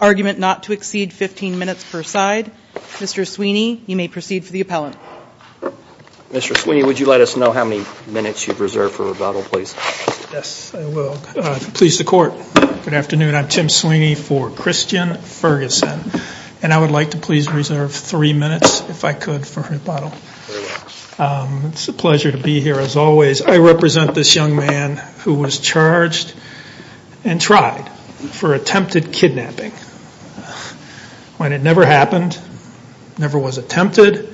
Argument not to exceed 15 minutes per side. Mr. Sweeney, you may proceed for the appellant. Mr. Sweeney, would you let us know how many minutes you've reserved for rebuttal, please? Yes, I will. Please, the court. Good afternoon. I'm Tim Sweeney for Christian Ferguson. And I would like to please reserve three minutes, if I could, for rebuttal. Very well. It's a pleasure to be here, as always. I represent this young man who was charged and tried for attempted kidnapping. When it never happened, never was attempted,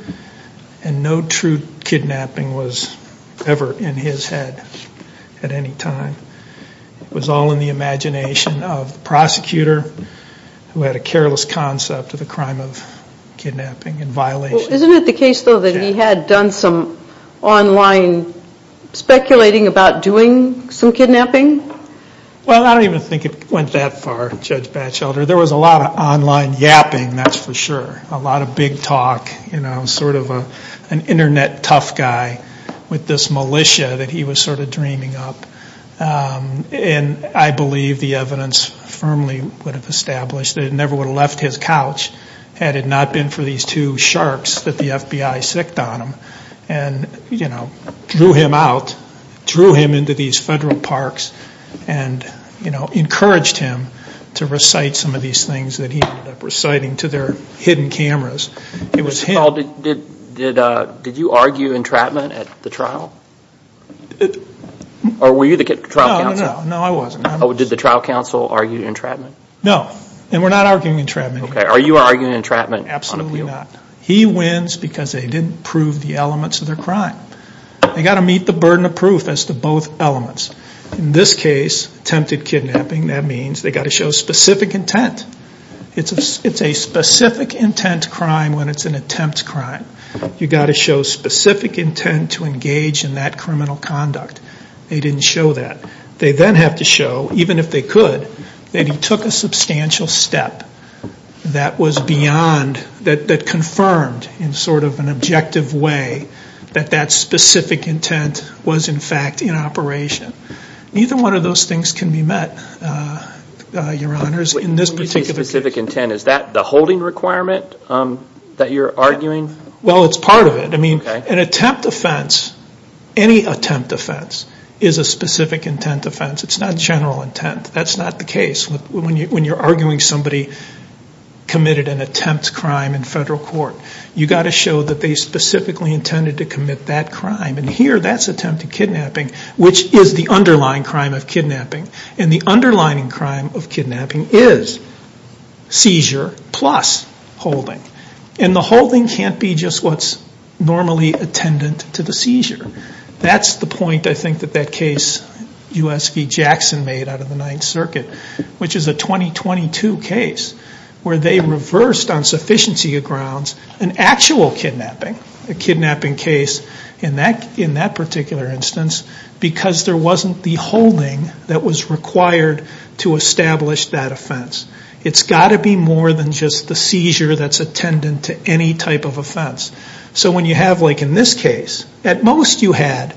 and no true kidnapping was ever in his head at any time. It was all in the imagination of the prosecutor who had a careless concept of the crime of kidnapping and violation. Isn't it the case, though, that he had done some online speculating about doing some kidnapping? Well, I don't even think it went that far, Judge Batchelder. There was a lot of online yapping, that's for sure. A lot of big talk. Sort of an internet tough guy with this militia that he was sort of dreaming up. And I believe the evidence firmly would have established that he never would have left his couch had it not been for these two sharks that the FBI sicced on him and drew him out, drew him into these federal parks and encouraged him to recite some of these things that he ended up reciting to their hidden cameras. Did you argue entrapment at the trial? Or were you the trial counsel? No, I wasn't. Did the trial counsel argue entrapment? No. And we're not arguing entrapment here. Are you arguing entrapment? Absolutely not. He wins because they didn't prove the elements of their crime. They've got to meet the burden of proof as to both elements. In this case, attempted kidnapping, that means they've got to show specific intent. It's a specific intent crime when it's an attempt crime. You've got to show specific intent to engage in that criminal conduct. They didn't show that. They then have to show, even if they could, that he took a substantial step that was beyond, that confirmed in sort of an objective way that that specific intent was in fact in operation. Neither one of those things can be met, Your Honors, in this particular case. When you say specific intent, is that the holding requirement that you're arguing? Well, it's part of it. An attempt offense, any attempt offense, is a specific intent offense. It's not general intent. That's not the case when you're arguing somebody committed an attempt crime in federal court. You've got to show that they specifically intended to commit that crime. And here, that's attempted kidnapping, which is the underlying crime of kidnapping. And the underlying crime of kidnapping is seizure plus holding. And the holding can't be just what's normally attendant to the seizure. That's the point, I think, that that case U.S. v. Jackson made out of the Ninth Circuit, which is a 2022 case where they reversed on sufficiency of grounds an actual kidnapping, a kidnapping case in that particular instance, because there wasn't the holding that was required to establish that offense. It's got to be more than just the seizure that's attendant to any type of offense. So when you have, like in this case, at most you had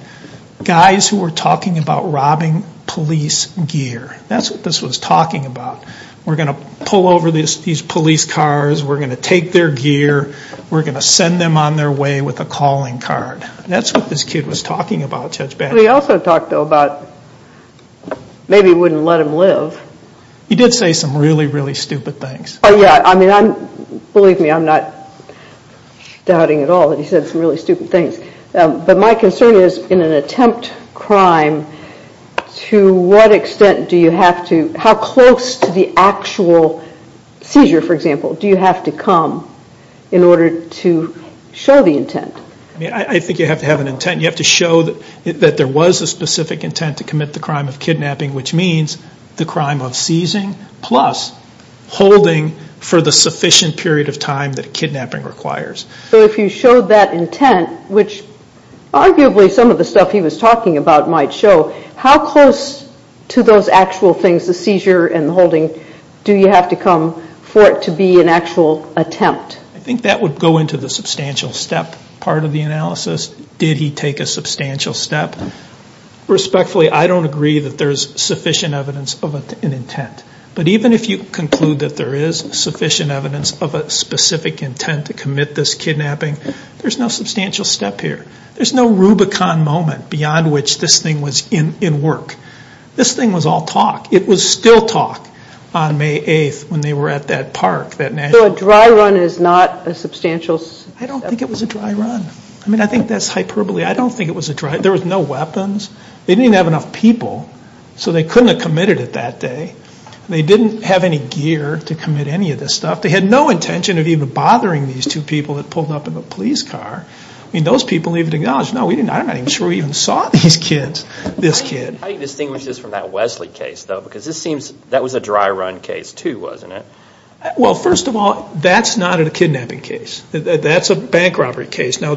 guys who were talking about robbing police gear. That's what this was talking about. We're going to pull over these police cars. We're going to take their gear. We're going to send them on their way with a calling card. That's what this kid was talking about, Judge Bannon. He also talked, though, about maybe wouldn't let them live. He did say some really, really stupid things. Oh, yeah. I mean, believe me, I'm not doubting at all that he said some really stupid things. But my concern is in an attempt crime, to what extent do you have to, how close to the actual seizure, for example, do you have to come in order to show the intent? I mean, I think you have to have an intent. You have to show that there was a specific intent to commit the crime of kidnapping, which means the crime of seizing plus holding for the sufficient period of time that kidnapping requires. So if you showed that intent, which arguably some of the stuff he was talking about might show, how close to those actual things, the seizure and the holding, do you have to come for it to be an actual attempt? I think that would go into the substantial step part of the analysis. Did he take a substantial step? Respectfully, I don't agree that there's sufficient evidence of an intent. But even if you conclude that there is sufficient evidence of a specific intent to commit this kidnapping, there's no substantial step here. There's no Rubicon moment beyond which this thing was in work. This thing was all talk. It was still talk on May 8th when they were at that park. So a dry run is not a substantial step? I don't think it was a dry run. I mean, I think that's hyperbole. I don't think it was a dry run. There was no weapons. They didn't have enough people. So they couldn't have committed it that day. They didn't have any gear to commit any of this stuff. They had no intention of even bothering these two people that pulled up in the police car. I mean, those people even acknowledged, no, we didn't. I'm not even sure we even saw these kids, this kid. How do you distinguish this from that Wesley case, though? Because that was a dry run case too, wasn't it? Well, first of all, that's not a kidnapping case. That's a bank robbery case. Now,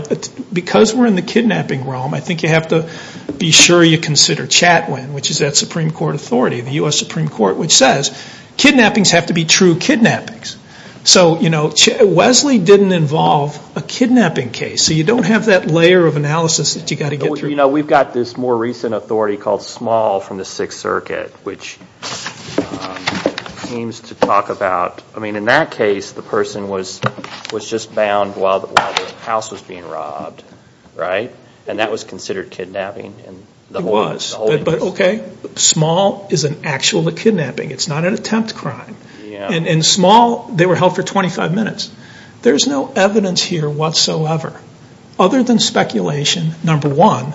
because we're in the kidnapping realm, I think you have to be sure you consider Chatwin, which is that Supreme Court authority, the U.S. Supreme Court, which says kidnappings have to be true kidnappings. So Wesley didn't involve a kidnapping case. So you don't have that layer of analysis that you've got to get through. We've got this more recent authority called Small from the Sixth Circuit, which seems to talk about, I mean, in that case, the person was just bound while the house was being robbed, right? And that was considered kidnapping? It was. But, okay, Small is an actual kidnapping. It's not an attempt crime. And Small, they were held for 25 minutes. There's no evidence here whatsoever, other than speculation, number one,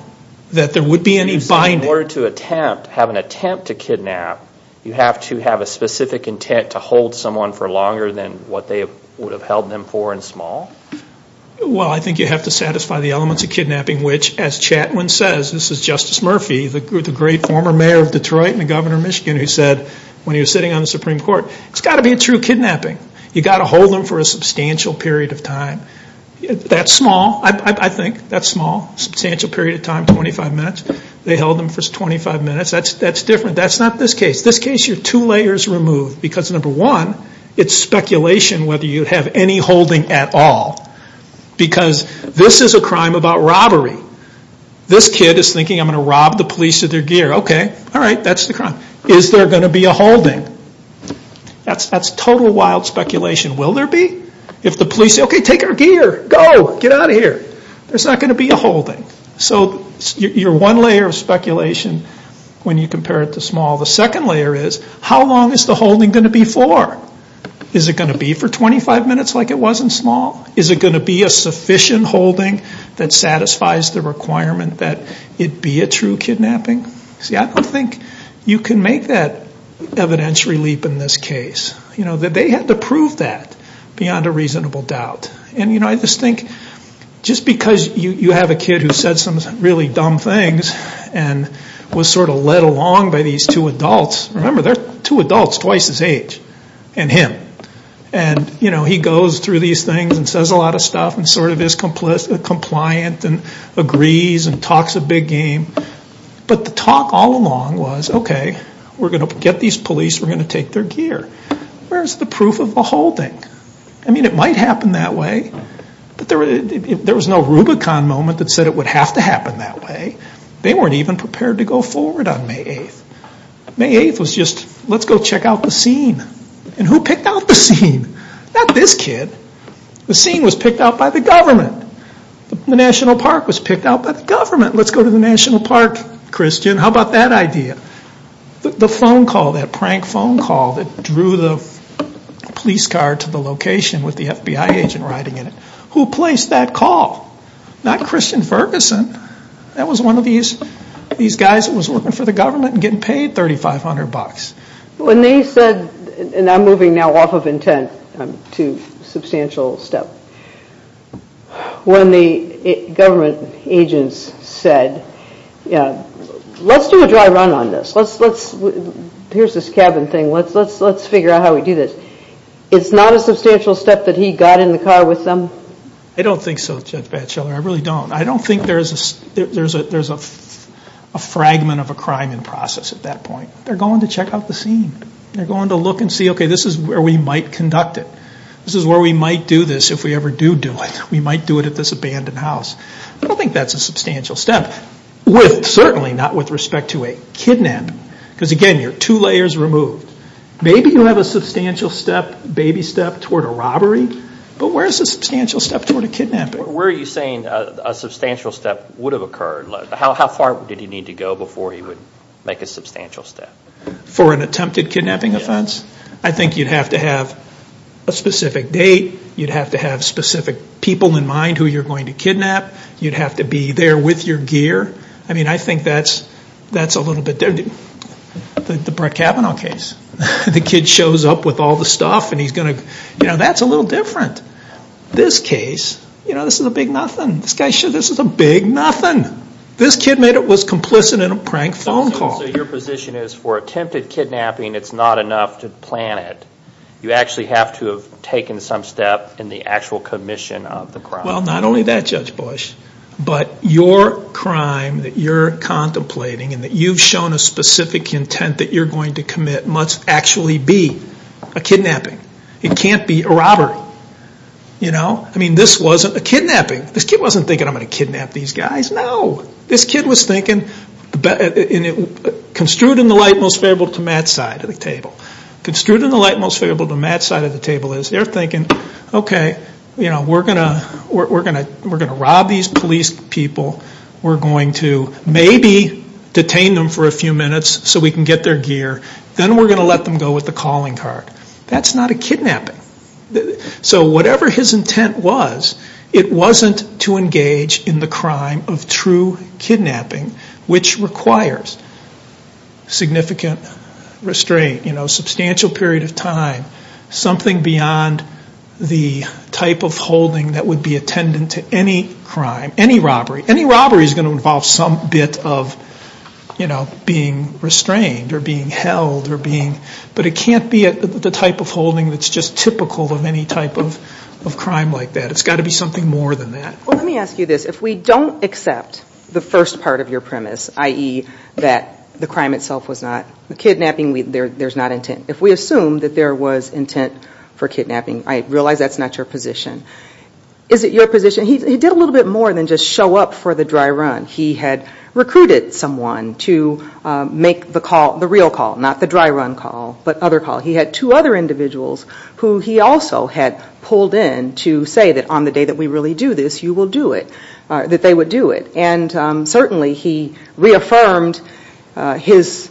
that there would be any binding. So in order to attempt, have an attempt to kidnap, you have to have a specific intent to hold someone for longer than what they would have held them for in Small? Well, I think you have to satisfy the elements of kidnapping, which, as Chatwin says, this is Justice Murphy, the great former mayor of Detroit and the governor of Michigan, who said when he was sitting on the Supreme Court, it's got to be a true kidnapping. You've got to hold them for a substantial period of time. That's Small, I think. That's Small, substantial period of time, 25 minutes. They held them for 25 minutes. That's different. That's not this case. This case, you're two layers removed. Because, number one, it's speculation whether you have any holding at all. Because this is a crime about robbery. This kid is thinking, I'm going to rob the police of their gear. Okay, all right, that's the crime. Is there going to be a holding? That's total wild speculation. Will there be? If the police say, okay, take our gear, go, get out of here. There's not going to be a holding. So you're one layer of speculation when you compare it to Small. The second layer is, how long is the holding going to be for? Is it going to be for 25 minutes like it was in Small? Is it going to be a sufficient holding that satisfies the requirement that it be a true kidnapping? See, I don't think you can make that evidentiary leap in this case. They had to prove that beyond a reasonable doubt. I just think, just because you have a kid who said some really dumb things and was sort of led along by these two adults. Remember, they're two adults twice his age and him. He goes through these things and says a lot of stuff and sort of is compliant and agrees and talks a big game. But the talk all along was, okay, we're going to get these police, we're going to take their gear. Where's the proof of the holding? I mean, it might happen that way. There was no Rubicon moment that said it would have to happen that way. They weren't even prepared to go forward on May 8th. May 8th was just, let's go check out the scene. And who picked out the scene? Not this kid. The scene was picked out by the government. The National Park was picked out by the government. Let's go to the National Park, Christian. How about that idea? The phone call, that prank phone call that drew the police car to the location with the FBI agent riding in it. Who placed that call? Not Christian Ferguson. That was one of these guys who was working for the government and getting paid $3,500. When they said, and I'm moving now off of intent to substantial step, when the government agents said, let's do a dry run on this. Here's this cabin thing. Let's figure out how we do this. It's not a substantial step that he got in the car with them? I don't think so, Judge Batchelor. I really don't. I don't think there's a fragment of a crime in process at that point. They're going to check out the scene. They're going to look and see, okay, this is where we might conduct it. This is where we might do this if we ever do do it. We might do it at this abandoned house. I don't think that's a substantial step. Certainly not with respect to a kidnap. Because, again, you're two layers removed. Maybe you have a substantial step, baby step toward a robbery, but where's the substantial step toward a kidnapping? Where are you saying a substantial step would have occurred? How far did he need to go before he would make a substantial step? For an attempted kidnapping offense? I think you'd have to have a specific date. You'd have to have specific people in mind who you're going to kidnap. You'd have to be there with your gear. I mean, I think that's a little bit different. The Brett Kavanaugh case. The kid shows up with all the stuff and he's going to, you know, that's a little different. This case, you know, this is a big nothing. This guy, this is a big nothing. This kid was complicit in a prank phone call. So your position is for attempted kidnapping, it's not enough to plan it. You actually have to have taken some step in the actual commission of the crime. Well, not only that, Judge Bush, but your crime that you're contemplating and that you've shown a specific intent that you're going to commit must actually be a kidnapping. It can't be a robbery. You know? I mean, this wasn't a kidnapping. This kid wasn't thinking, I'm going to kidnap these guys. No. This kid was thinking, construed in the light most favorable to Matt's side of the table. Construed in the light most favorable to Matt's side of the table is, they're thinking, okay, you know, we're going to rob these police people. We're going to maybe detain them for a few minutes so we can get their gear. Then we're going to let them go with the calling card. That's not a kidnapping. So whatever his intent was, it wasn't to engage in the crime of true kidnapping, which requires significant restraint, a substantial period of time, something beyond the type of holding that would be attendant to any crime, any robbery. Any robbery is going to involve some bit of being restrained or being held. But it can't be the type of holding that's just typical of any type of crime like that. It's got to be something more than that. Well, let me ask you this. If we don't accept the first part of your premise, i.e., that the crime itself was not kidnapping, there's not intent. If we assume that there was intent for kidnapping, I realize that's not your position. Is it your position? He did a little bit more than just show up for the dry run. He had recruited someone to make the call, the real call, not the dry run call, but other call. He had two other individuals who he also had pulled in to say that on the day that we really do this, you will do it, that they would do it. And certainly he reaffirmed his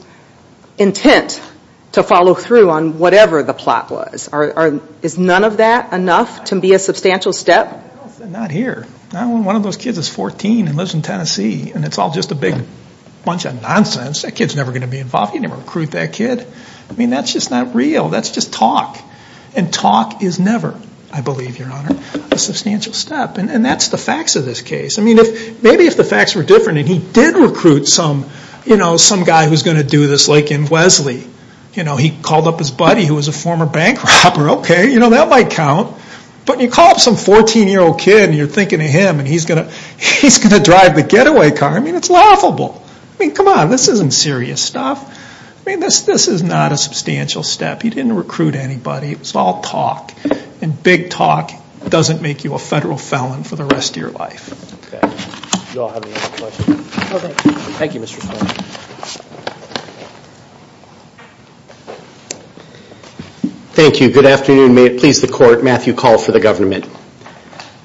intent to follow through on whatever the plot was. Is none of that enough to be a substantial step? Not here. One of those kids is 14 and lives in Tennessee, and it's all just a big bunch of nonsense. That kid's never going to be involved. He didn't recruit that kid. I mean, that's just not real. That's just talk. And talk is never, I believe, Your Honor, a substantial step. And that's the facts of this case. I mean, maybe if the facts were different and he did recruit some guy who's going to do this, like in Wesley, he called up his buddy who was a former bank robber. Okay, that might count. But you call up some 14-year-old kid, and you're thinking of him, and he's going to drive the getaway car. I mean, it's laughable. I mean, come on. This isn't serious stuff. I mean, this is not a substantial step. He didn't recruit anybody. It was all talk. And big talk doesn't make you a federal felon for the rest of your life. Okay. Do you all have any other questions? Okay. Thank you, Mr. Fleming. Thank you. Good afternoon. May it please the Court, Matthew Call for the Government.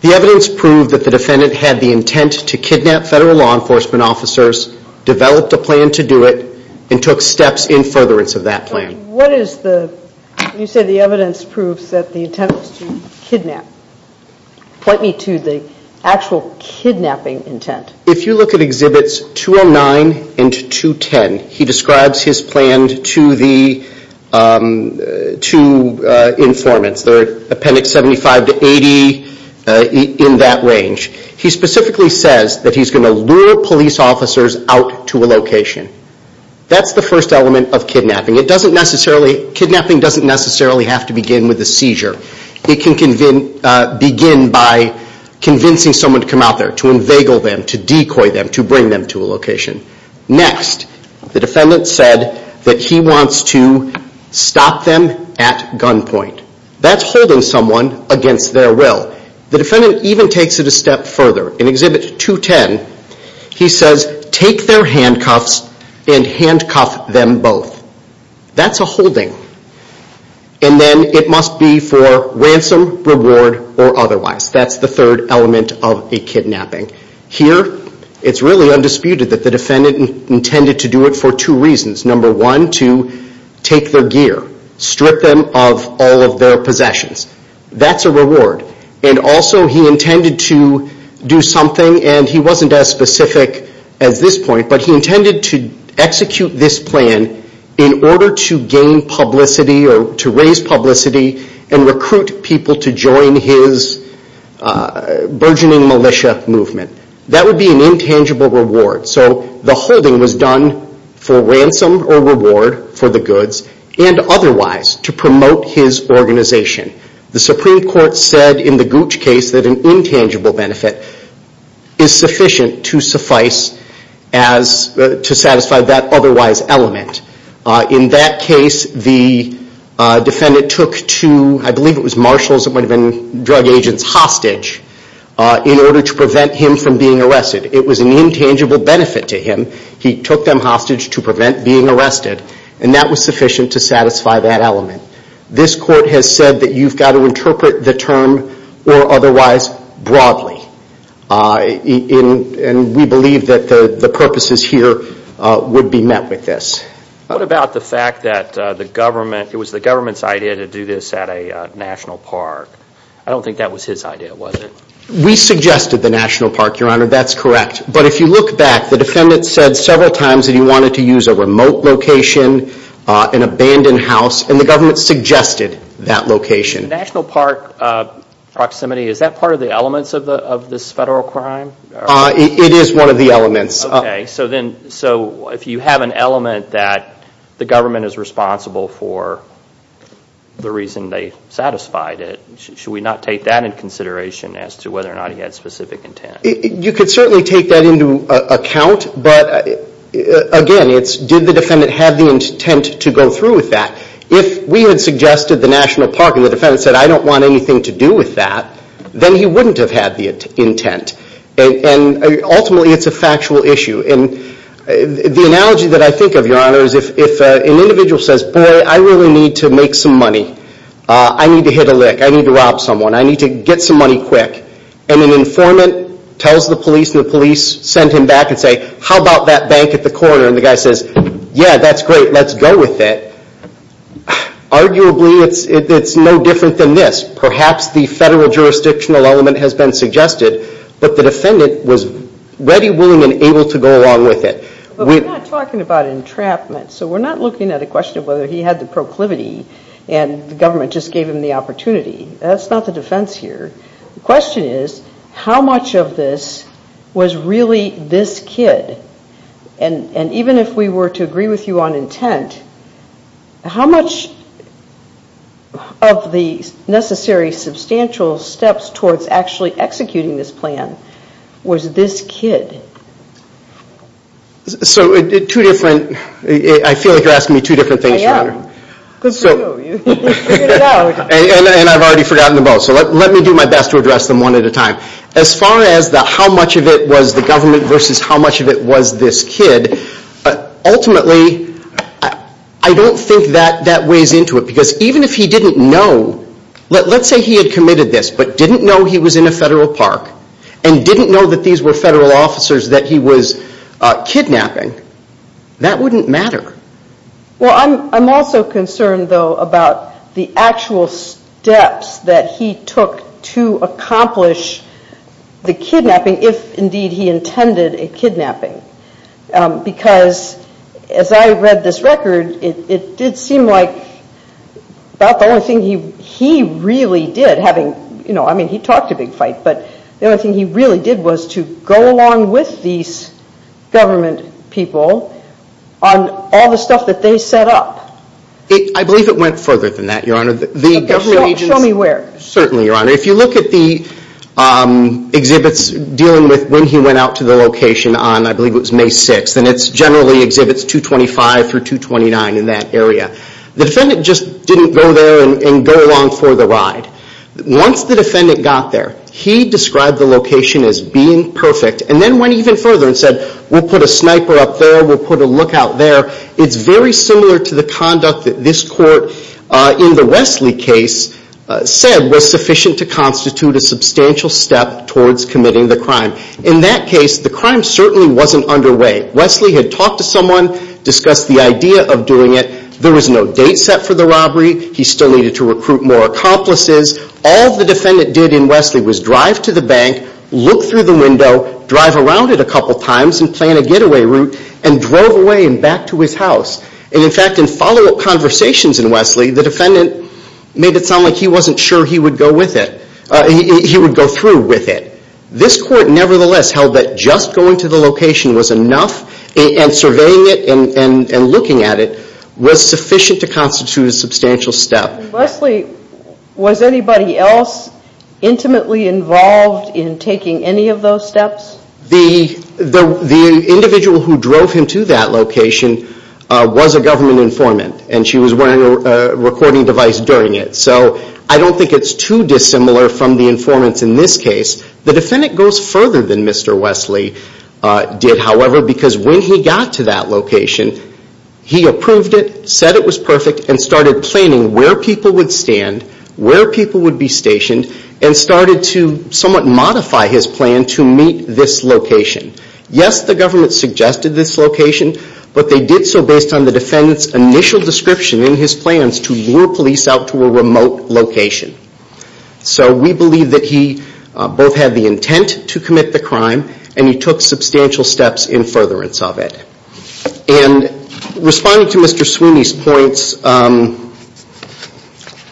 The evidence proved that the defendant had the intent to kidnap federal law enforcement officers, developed a plan to do it, and took steps in furtherance of that plan. What is the, when you say the evidence proves that the intent was to kidnap, point me to the actual kidnapping intent. If you look at Exhibits 209 and 210, he describes his plan to the informants. They're Appendix 75 to 80, in that range. He specifically says that he's going to lure police officers out to a location. That's the first element of kidnapping. It doesn't necessarily, kidnapping doesn't necessarily have to begin with a seizure. It can begin by convincing someone to come out there, to inveigle them, to decoy them, to bring them to a location. Next, the defendant said that he wants to stop them at gunpoint. That's holding someone against their will. The defendant even takes it a step further. In Exhibit 210, he says, take their handcuffs and handcuff them both. That's a holding. And then it must be for ransom, reward, or otherwise. That's the third element of a kidnapping. Here, it's really undisputed that the defendant intended to do it for two reasons. Number one, to take their gear. Strip them of all of their possessions. That's a reward. And also, he intended to do something, and he wasn't as specific as this point, but he intended to execute this plan in order to gain publicity, or to raise publicity, and recruit people to join his burgeoning militia movement. That would be an intangible reward. So the holding was done for ransom or reward for the goods, and otherwise to promote his organization. The Supreme Court said in the Gooch case that an intangible benefit is sufficient to satisfy that otherwise element. In that case, the defendant took two, I believe it was marshals, it might have been drug agents, hostage in order to prevent him from being arrested. It was an intangible benefit to him. He took them hostage to prevent being arrested, and that was sufficient to satisfy that element. This court has said that you've got to interpret the term, or otherwise, broadly. And we believe that the purposes here would be met with this. What about the fact that it was the government's idea to do this at a national park? I don't think that was his idea, was it? We suggested the national park, Your Honor, that's correct. But if you look back, the defendant said several times that he wanted to use a remote location, an abandoned house, and the government suggested that location. The national park proximity, is that part of the elements of this federal crime? It is one of the elements. Okay, so if you have an element that the government is responsible for the reason they satisfied it, should we not take that into consideration as to whether or not he had specific intent? You could certainly take that into account, but again, it's did the defendant have the intent to go through with that. If we had suggested the national park and the defendant said, I don't want anything to do with that, then he wouldn't have had the intent. And ultimately, it's a factual issue. And the analogy that I think of, Your Honor, is if an individual says, Boy, I really need to make some money. I need to hit a lick. I need to rob someone. I need to get some money quick. And an informant tells the police, and the police send him back and say, How about that bank at the corner? And the guy says, Yeah, that's great. Let's go with it. Arguably, it's no different than this. Perhaps the federal jurisdictional element has been suggested, but the defendant was ready, willing, and able to go along with it. But we're not talking about entrapment, so we're not looking at a question of whether he had the proclivity and the government just gave him the opportunity. That's not the defense here. The question is, how much of this was really this kid? And even if we were to agree with you on intent, how much of the necessary substantial steps towards actually executing this plan was this kid? So two different – I feel like you're asking me two different things, Your Honor. Good for you. You figured it out. And I've already forgotten them both, so let me do my best to address them one at a time. As far as how much of it was the government versus how much of it was this kid, ultimately, I don't think that weighs into it, because even if he didn't know – let's say he had committed this, but didn't know he was in a federal park and didn't know that these were federal officers that he was kidnapping, that wouldn't matter. Well, I'm also concerned, though, about the actual steps that he took to accomplish the kidnapping, if, indeed, he intended a kidnapping. Because as I read this record, it did seem like about the only thing he really did – I mean, he talked a big fight, but the only thing he really did was to go along with these government people on all the stuff that they set up. I believe it went further than that, Your Honor. Okay, show me where. Certainly, Your Honor. If you look at the exhibits dealing with when he went out to the location on, I believe it was May 6th, and it generally exhibits 225 through 229 in that area. The defendant just didn't go there and go along for the ride. Once the defendant got there, he described the location as being perfect, and then went even further and said, we'll put a sniper up there, we'll put a lookout there. It's very similar to the conduct that this court, in the Wesley case, said was sufficient to constitute a substantial step towards committing the crime. In that case, the crime certainly wasn't underway. Wesley had talked to someone, discussed the idea of doing it. There was no date set for the robbery. He still needed to recruit more accomplices. All the defendant did in Wesley was drive to the bank, look through the window, drive around it a couple times and plan a getaway route, and drove away and back to his house. In fact, in follow-up conversations in Wesley, the defendant made it sound like he wasn't sure he would go with it, he would go through with it. This court, nevertheless, held that just going to the location was enough, and surveying it and looking at it was sufficient to constitute a substantial step. Wesley, was anybody else intimately involved in taking any of those steps? The individual who drove him to that location was a government informant, and she was wearing a recording device during it. So I don't think it's too dissimilar from the informants in this case. The defendant goes further than Mr. Wesley did, however, because when he got to that location, he approved it, said it was perfect, and started planning where people would stand, where people would be stationed, and started to somewhat modify his plan to meet this location. Yes, the government suggested this location, but they did so based on the defendant's initial description in his plans to lure police out to a remote location. So we believe that he both had the intent to commit the crime, and he took substantial steps in furtherance of it. Responding to Mr. Sweeney's points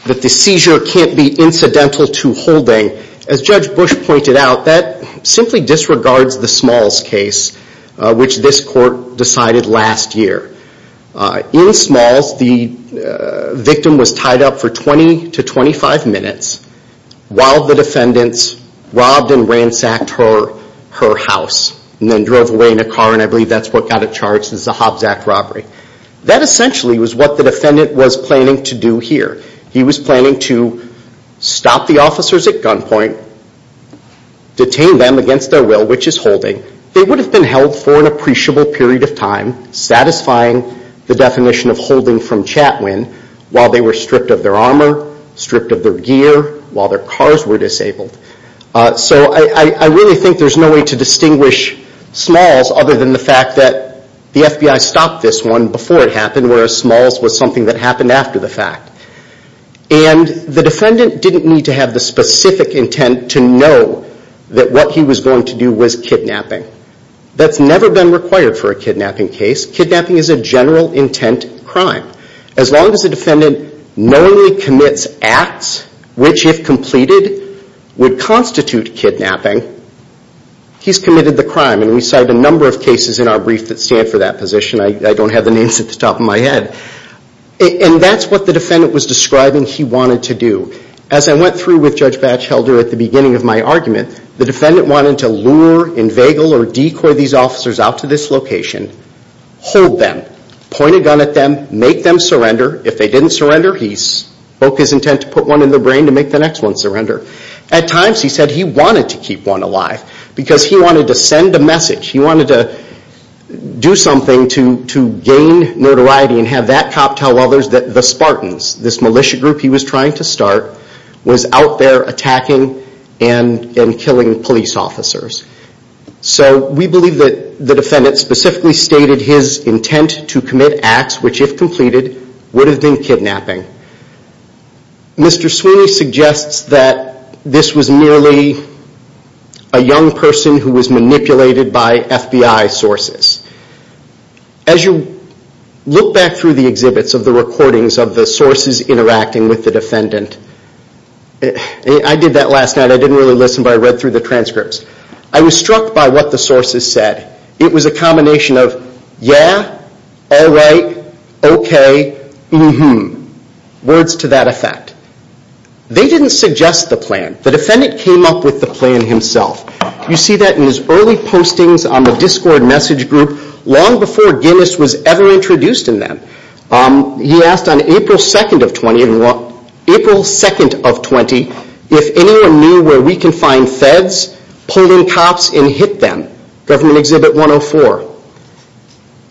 that the seizure can't be incidental to holding, as Judge Bush pointed out, that simply disregards the Smalls case, which this court decided last year. In Smalls, the victim was tied up for 20 to 25 minutes while the defendants robbed and ransacked her house, and then drove away in a car, and I believe that's what got it charged as a Hobbs Act robbery. That essentially was what the defendant was planning to do here. He was planning to stop the officers at gunpoint, detain them against their will, which is holding. They would have been held for an appreciable period of time, satisfying the definition of holding from Chatwin, while they were stripped of their armor, stripped of their gear, while their cars were disabled. So I really think there's no way to distinguish Smalls other than the fact that the FBI stopped this one before it happened, whereas Smalls was something that happened after the fact. And the defendant didn't need to have the specific intent to know that what he was going to do was kidnapping. That's never been required for a kidnapping case. Kidnapping is a general intent crime. As long as the defendant knowingly commits acts, which, if completed, would constitute kidnapping, he's committed the crime. And we cite a number of cases in our brief that stand for that position. I don't have the names at the top of my head. And that's what the defendant was describing he wanted to do. As I went through with Judge Batchelder at the beginning of my argument, the defendant wanted to lure, inveigle, or decoy these officers out to this location, hold them, point a gun at them, make them surrender. If they didn't surrender, he spoke his intent to put one in their brain to make the next one surrender. At times he said he wanted to keep one alive because he wanted to send a message. He wanted to do something to gain notoriety and have that cop tell others that the Spartans, this militia group he was trying to start, was out there attacking and killing police officers. So we believe that the defendant specifically stated his intent to commit acts, which if completed, would have been kidnapping. Mr. Sweeney suggests that this was merely a young person who was manipulated by FBI sources. As you look back through the exhibits of the recordings of the sources interacting with the defendant, I did that last night. I didn't really listen, but I read through the transcripts. I was struck by what the sources said. It was a combination of yeah, all right, okay, mm-hmm. Words to that effect. They didn't suggest the plan. The defendant came up with the plan himself. You see that in his early postings on the Discord message group long before Guinness was ever introduced in them. He asked on April 2nd of 20, if anyone knew where we can find feds pulling cops and hit them. Government Exhibit 104.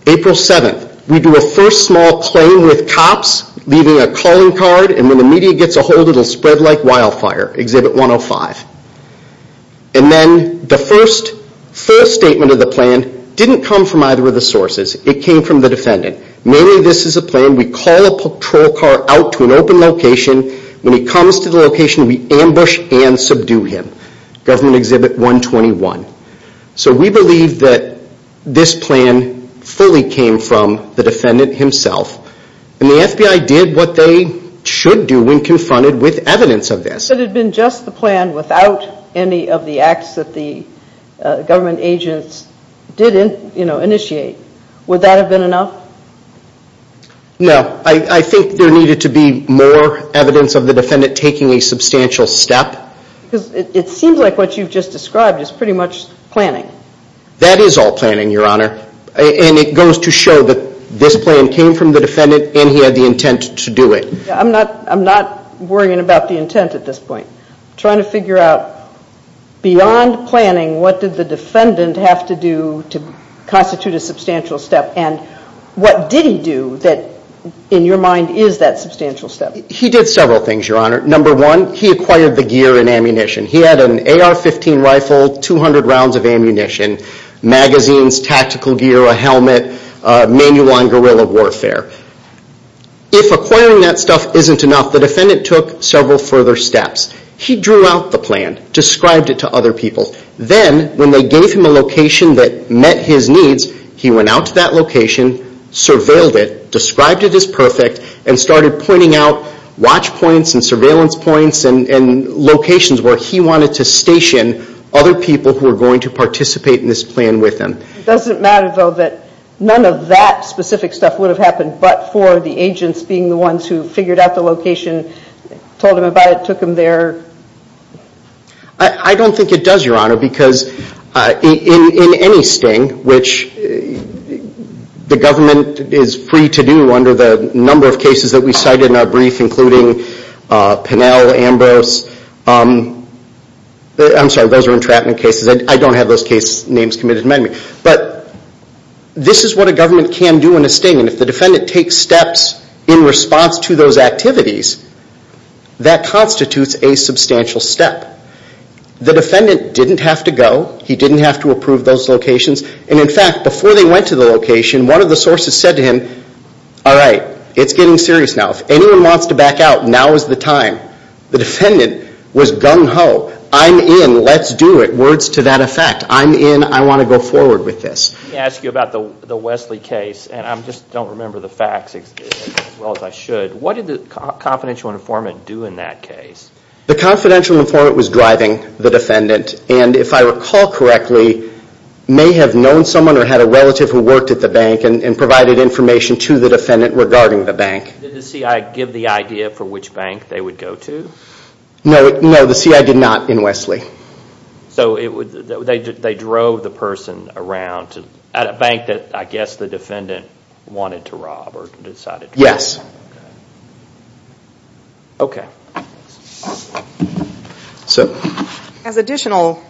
April 7th, we do a first small claim with cops, leaving a calling card, and when the media gets a hold, it will spread like wildfire. Exhibit 105. And then the first statement of the plan didn't come from either of the sources. It came from the defendant. Mainly this is a plan. We call a patrol car out to an open location. When he comes to the location, we ambush and subdue him. Government Exhibit 121. So we believe that this plan fully came from the defendant himself. And the FBI did what they should do when confronted with evidence of this. If it had been just the plan without any of the acts that the government agents did initiate, would that have been enough? No. I think there needed to be more evidence of the defendant taking a substantial step. Because it seems like what you've just described is pretty much planning. That is all planning, Your Honor. And it goes to show that this plan came from the defendant and he had the intent to do it. I'm not worrying about the intent at this point. I'm trying to figure out, beyond planning, what did the defendant have to do to constitute a substantial step, and what did he do that, in your mind, is that substantial step? He did several things, Your Honor. Number one, he acquired the gear and ammunition. He had an AR-15 rifle, 200 rounds of ammunition, magazines, tactical gear, a helmet, manual on guerrilla warfare. If acquiring that stuff isn't enough, the defendant took several further steps. He drew out the plan, described it to other people. Then, when they gave him a location that met his needs, he went out to that location, surveilled it, described it as perfect, and started pointing out watch points and surveillance points and locations where he wanted to station other people who were going to participate in this plan with him. It doesn't matter, though, that none of that specific stuff would have happened but for the agents being the ones who figured out the location, told him about it, took him there? I don't think it does, Your Honor, because in any sting, which the government is free to do under the number of cases that we cited in our brief, including Pinnell, Ambrose, I'm sorry, those are entrapment cases. I don't have those case names committed to me. But this is what a government can do in a sting, and if the defendant takes steps in response to those activities, that constitutes a substantial step. The defendant didn't have to go. He didn't have to approve those locations. And in fact, before they went to the location, one of the sources said to him, all right, it's getting serious now. If anyone wants to back out, now is the time. The defendant was gung ho. I'm in. Let's do it. Words to that effect. I'm in. I want to go forward with this. Let me ask you about the Wesley case, and I just don't remember the facts as well as I should. The confidential informant was driving the defendant, and if I recall correctly, may have known someone or had a relative who worked at the bank and provided information to the defendant regarding the bank. Did the CI give the idea for which bank they would go to? No, the CI did not in Wesley. So they drove the person around at a bank that, I guess, the defendant wanted to rob or decided to rob. Yes. Okay. As additional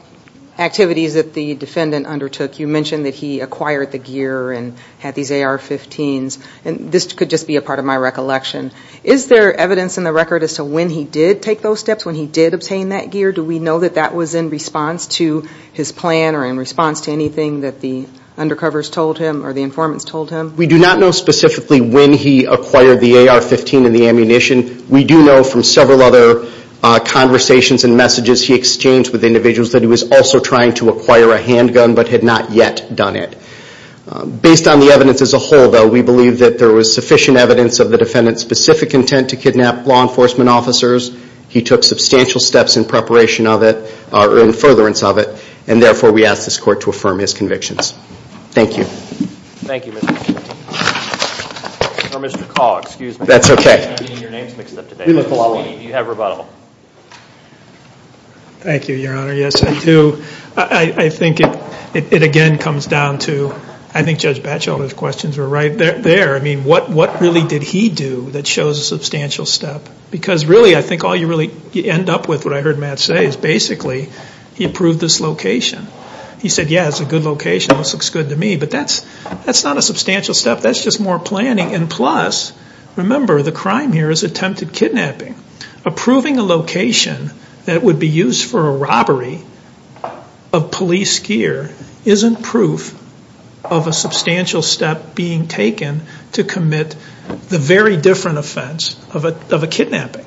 activities that the defendant undertook, you mentioned that he acquired the gear and had these AR-15s, and this could just be a part of my recollection. Is there evidence in the record as to when he did take those steps, when he did obtain that gear? Do we know that that was in response to his plan or in response to anything that the undercovers told him or the informants told him? We do not know specifically when he acquired the AR-15 and the ammunition. We do know from several other conversations and messages he exchanged with individuals that he was also trying to acquire a handgun but had not yet done it. Based on the evidence as a whole, though, we believe that there was sufficient evidence of the defendant's specific intent to kidnap law enforcement officers. He took substantial steps in preparation of it, or in furtherance of it, and therefore we ask this Court to affirm his convictions. Thank you. Thank you, Mr. Smith. Or Mr. Call, excuse me. That's okay. You have rebuttal. Thank you, Your Honor. Yes, I do. I think it again comes down to, I think Judge Batchelder's questions were right there. I mean, what really did he do that shows a substantial step? Because really, I think all you really end up with, what I heard Matt say, is basically he proved this location. He said, yeah, it's a good location. This looks good to me. But that's not a substantial step. That's just more planning. And plus, remember, the crime here is attempted kidnapping. Approving a location that would be used for a robbery of police gear isn't proof of a substantial step being taken to commit the very different offense of a kidnapping.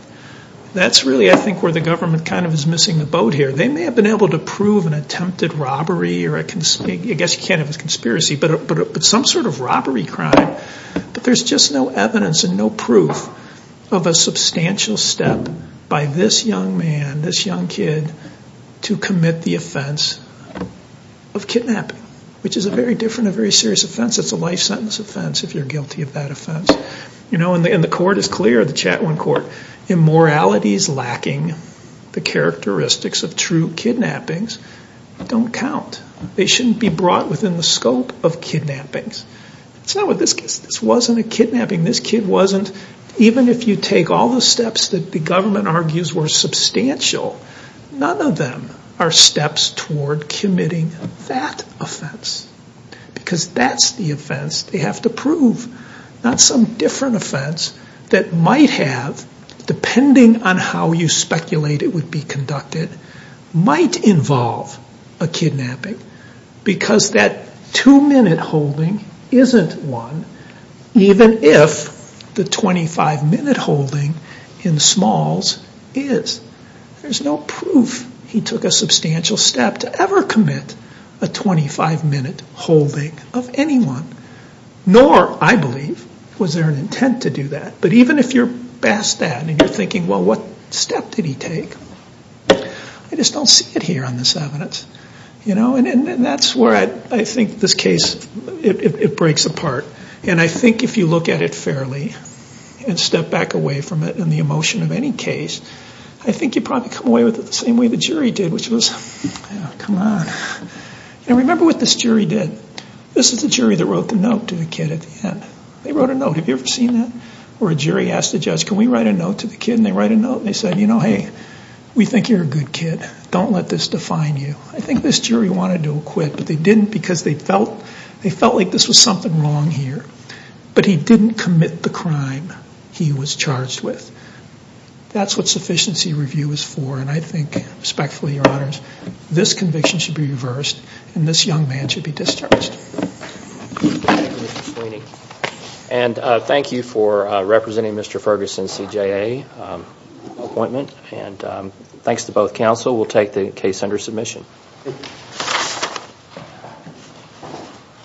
That's really, I think, where the government kind of is missing the boat here. They may have been able to prove an attempted robbery, I guess you can't have a conspiracy, but some sort of robbery crime. But there's just no evidence and no proof of a substantial step by this young man, this young kid, to commit the offense of kidnapping, which is a very different and very serious offense. It's a life sentence offense if you're guilty of that offense. And the court is clear, the Chatwin Court, immoralities lacking the characteristics of true kidnappings don't count. They shouldn't be brought within the scope of kidnappings. This wasn't a kidnapping. This kid wasn't, even if you take all the steps that the government argues were substantial, none of them are steps toward committing that offense. Because that's the offense they have to prove, not some different offense that might have, depending on how you speculate it would be conducted, might involve a kidnapping. Because that two-minute holding isn't one, even if the 25-minute holding in Smalls is. There's no proof he took a substantial step to ever commit a 25-minute holding of anyone. Nor, I believe, was there an intent to do that. But even if you're past that and you're thinking, well, what step did he take? I just don't see it here on this evidence. And that's where I think this case, it breaks apart. And I think if you look at it fairly and step back away from it in the emotion of any case, I think you'd probably come away with it the same way the jury did, which was, come on. And remember what this jury did. This is the jury that wrote the note to the kid at the end. They wrote a note. Have you ever seen that? Where a jury asked a judge, can we write a note to the kid? And they write a note and they said, hey, we think you're a good kid. Don't let this define you. I think this jury wanted to acquit, but they didn't because they felt like this was something wrong here. But he didn't commit the crime he was charged with. That's what sufficiency review is for. And I think, respectfully, Your Honors, this conviction should be reversed and this young man should be discharged. Thank you, Mr. Sweeney. And thank you for representing Mr. Ferguson's CJA appointment. Thanks to both counsel. We'll take the case under submission.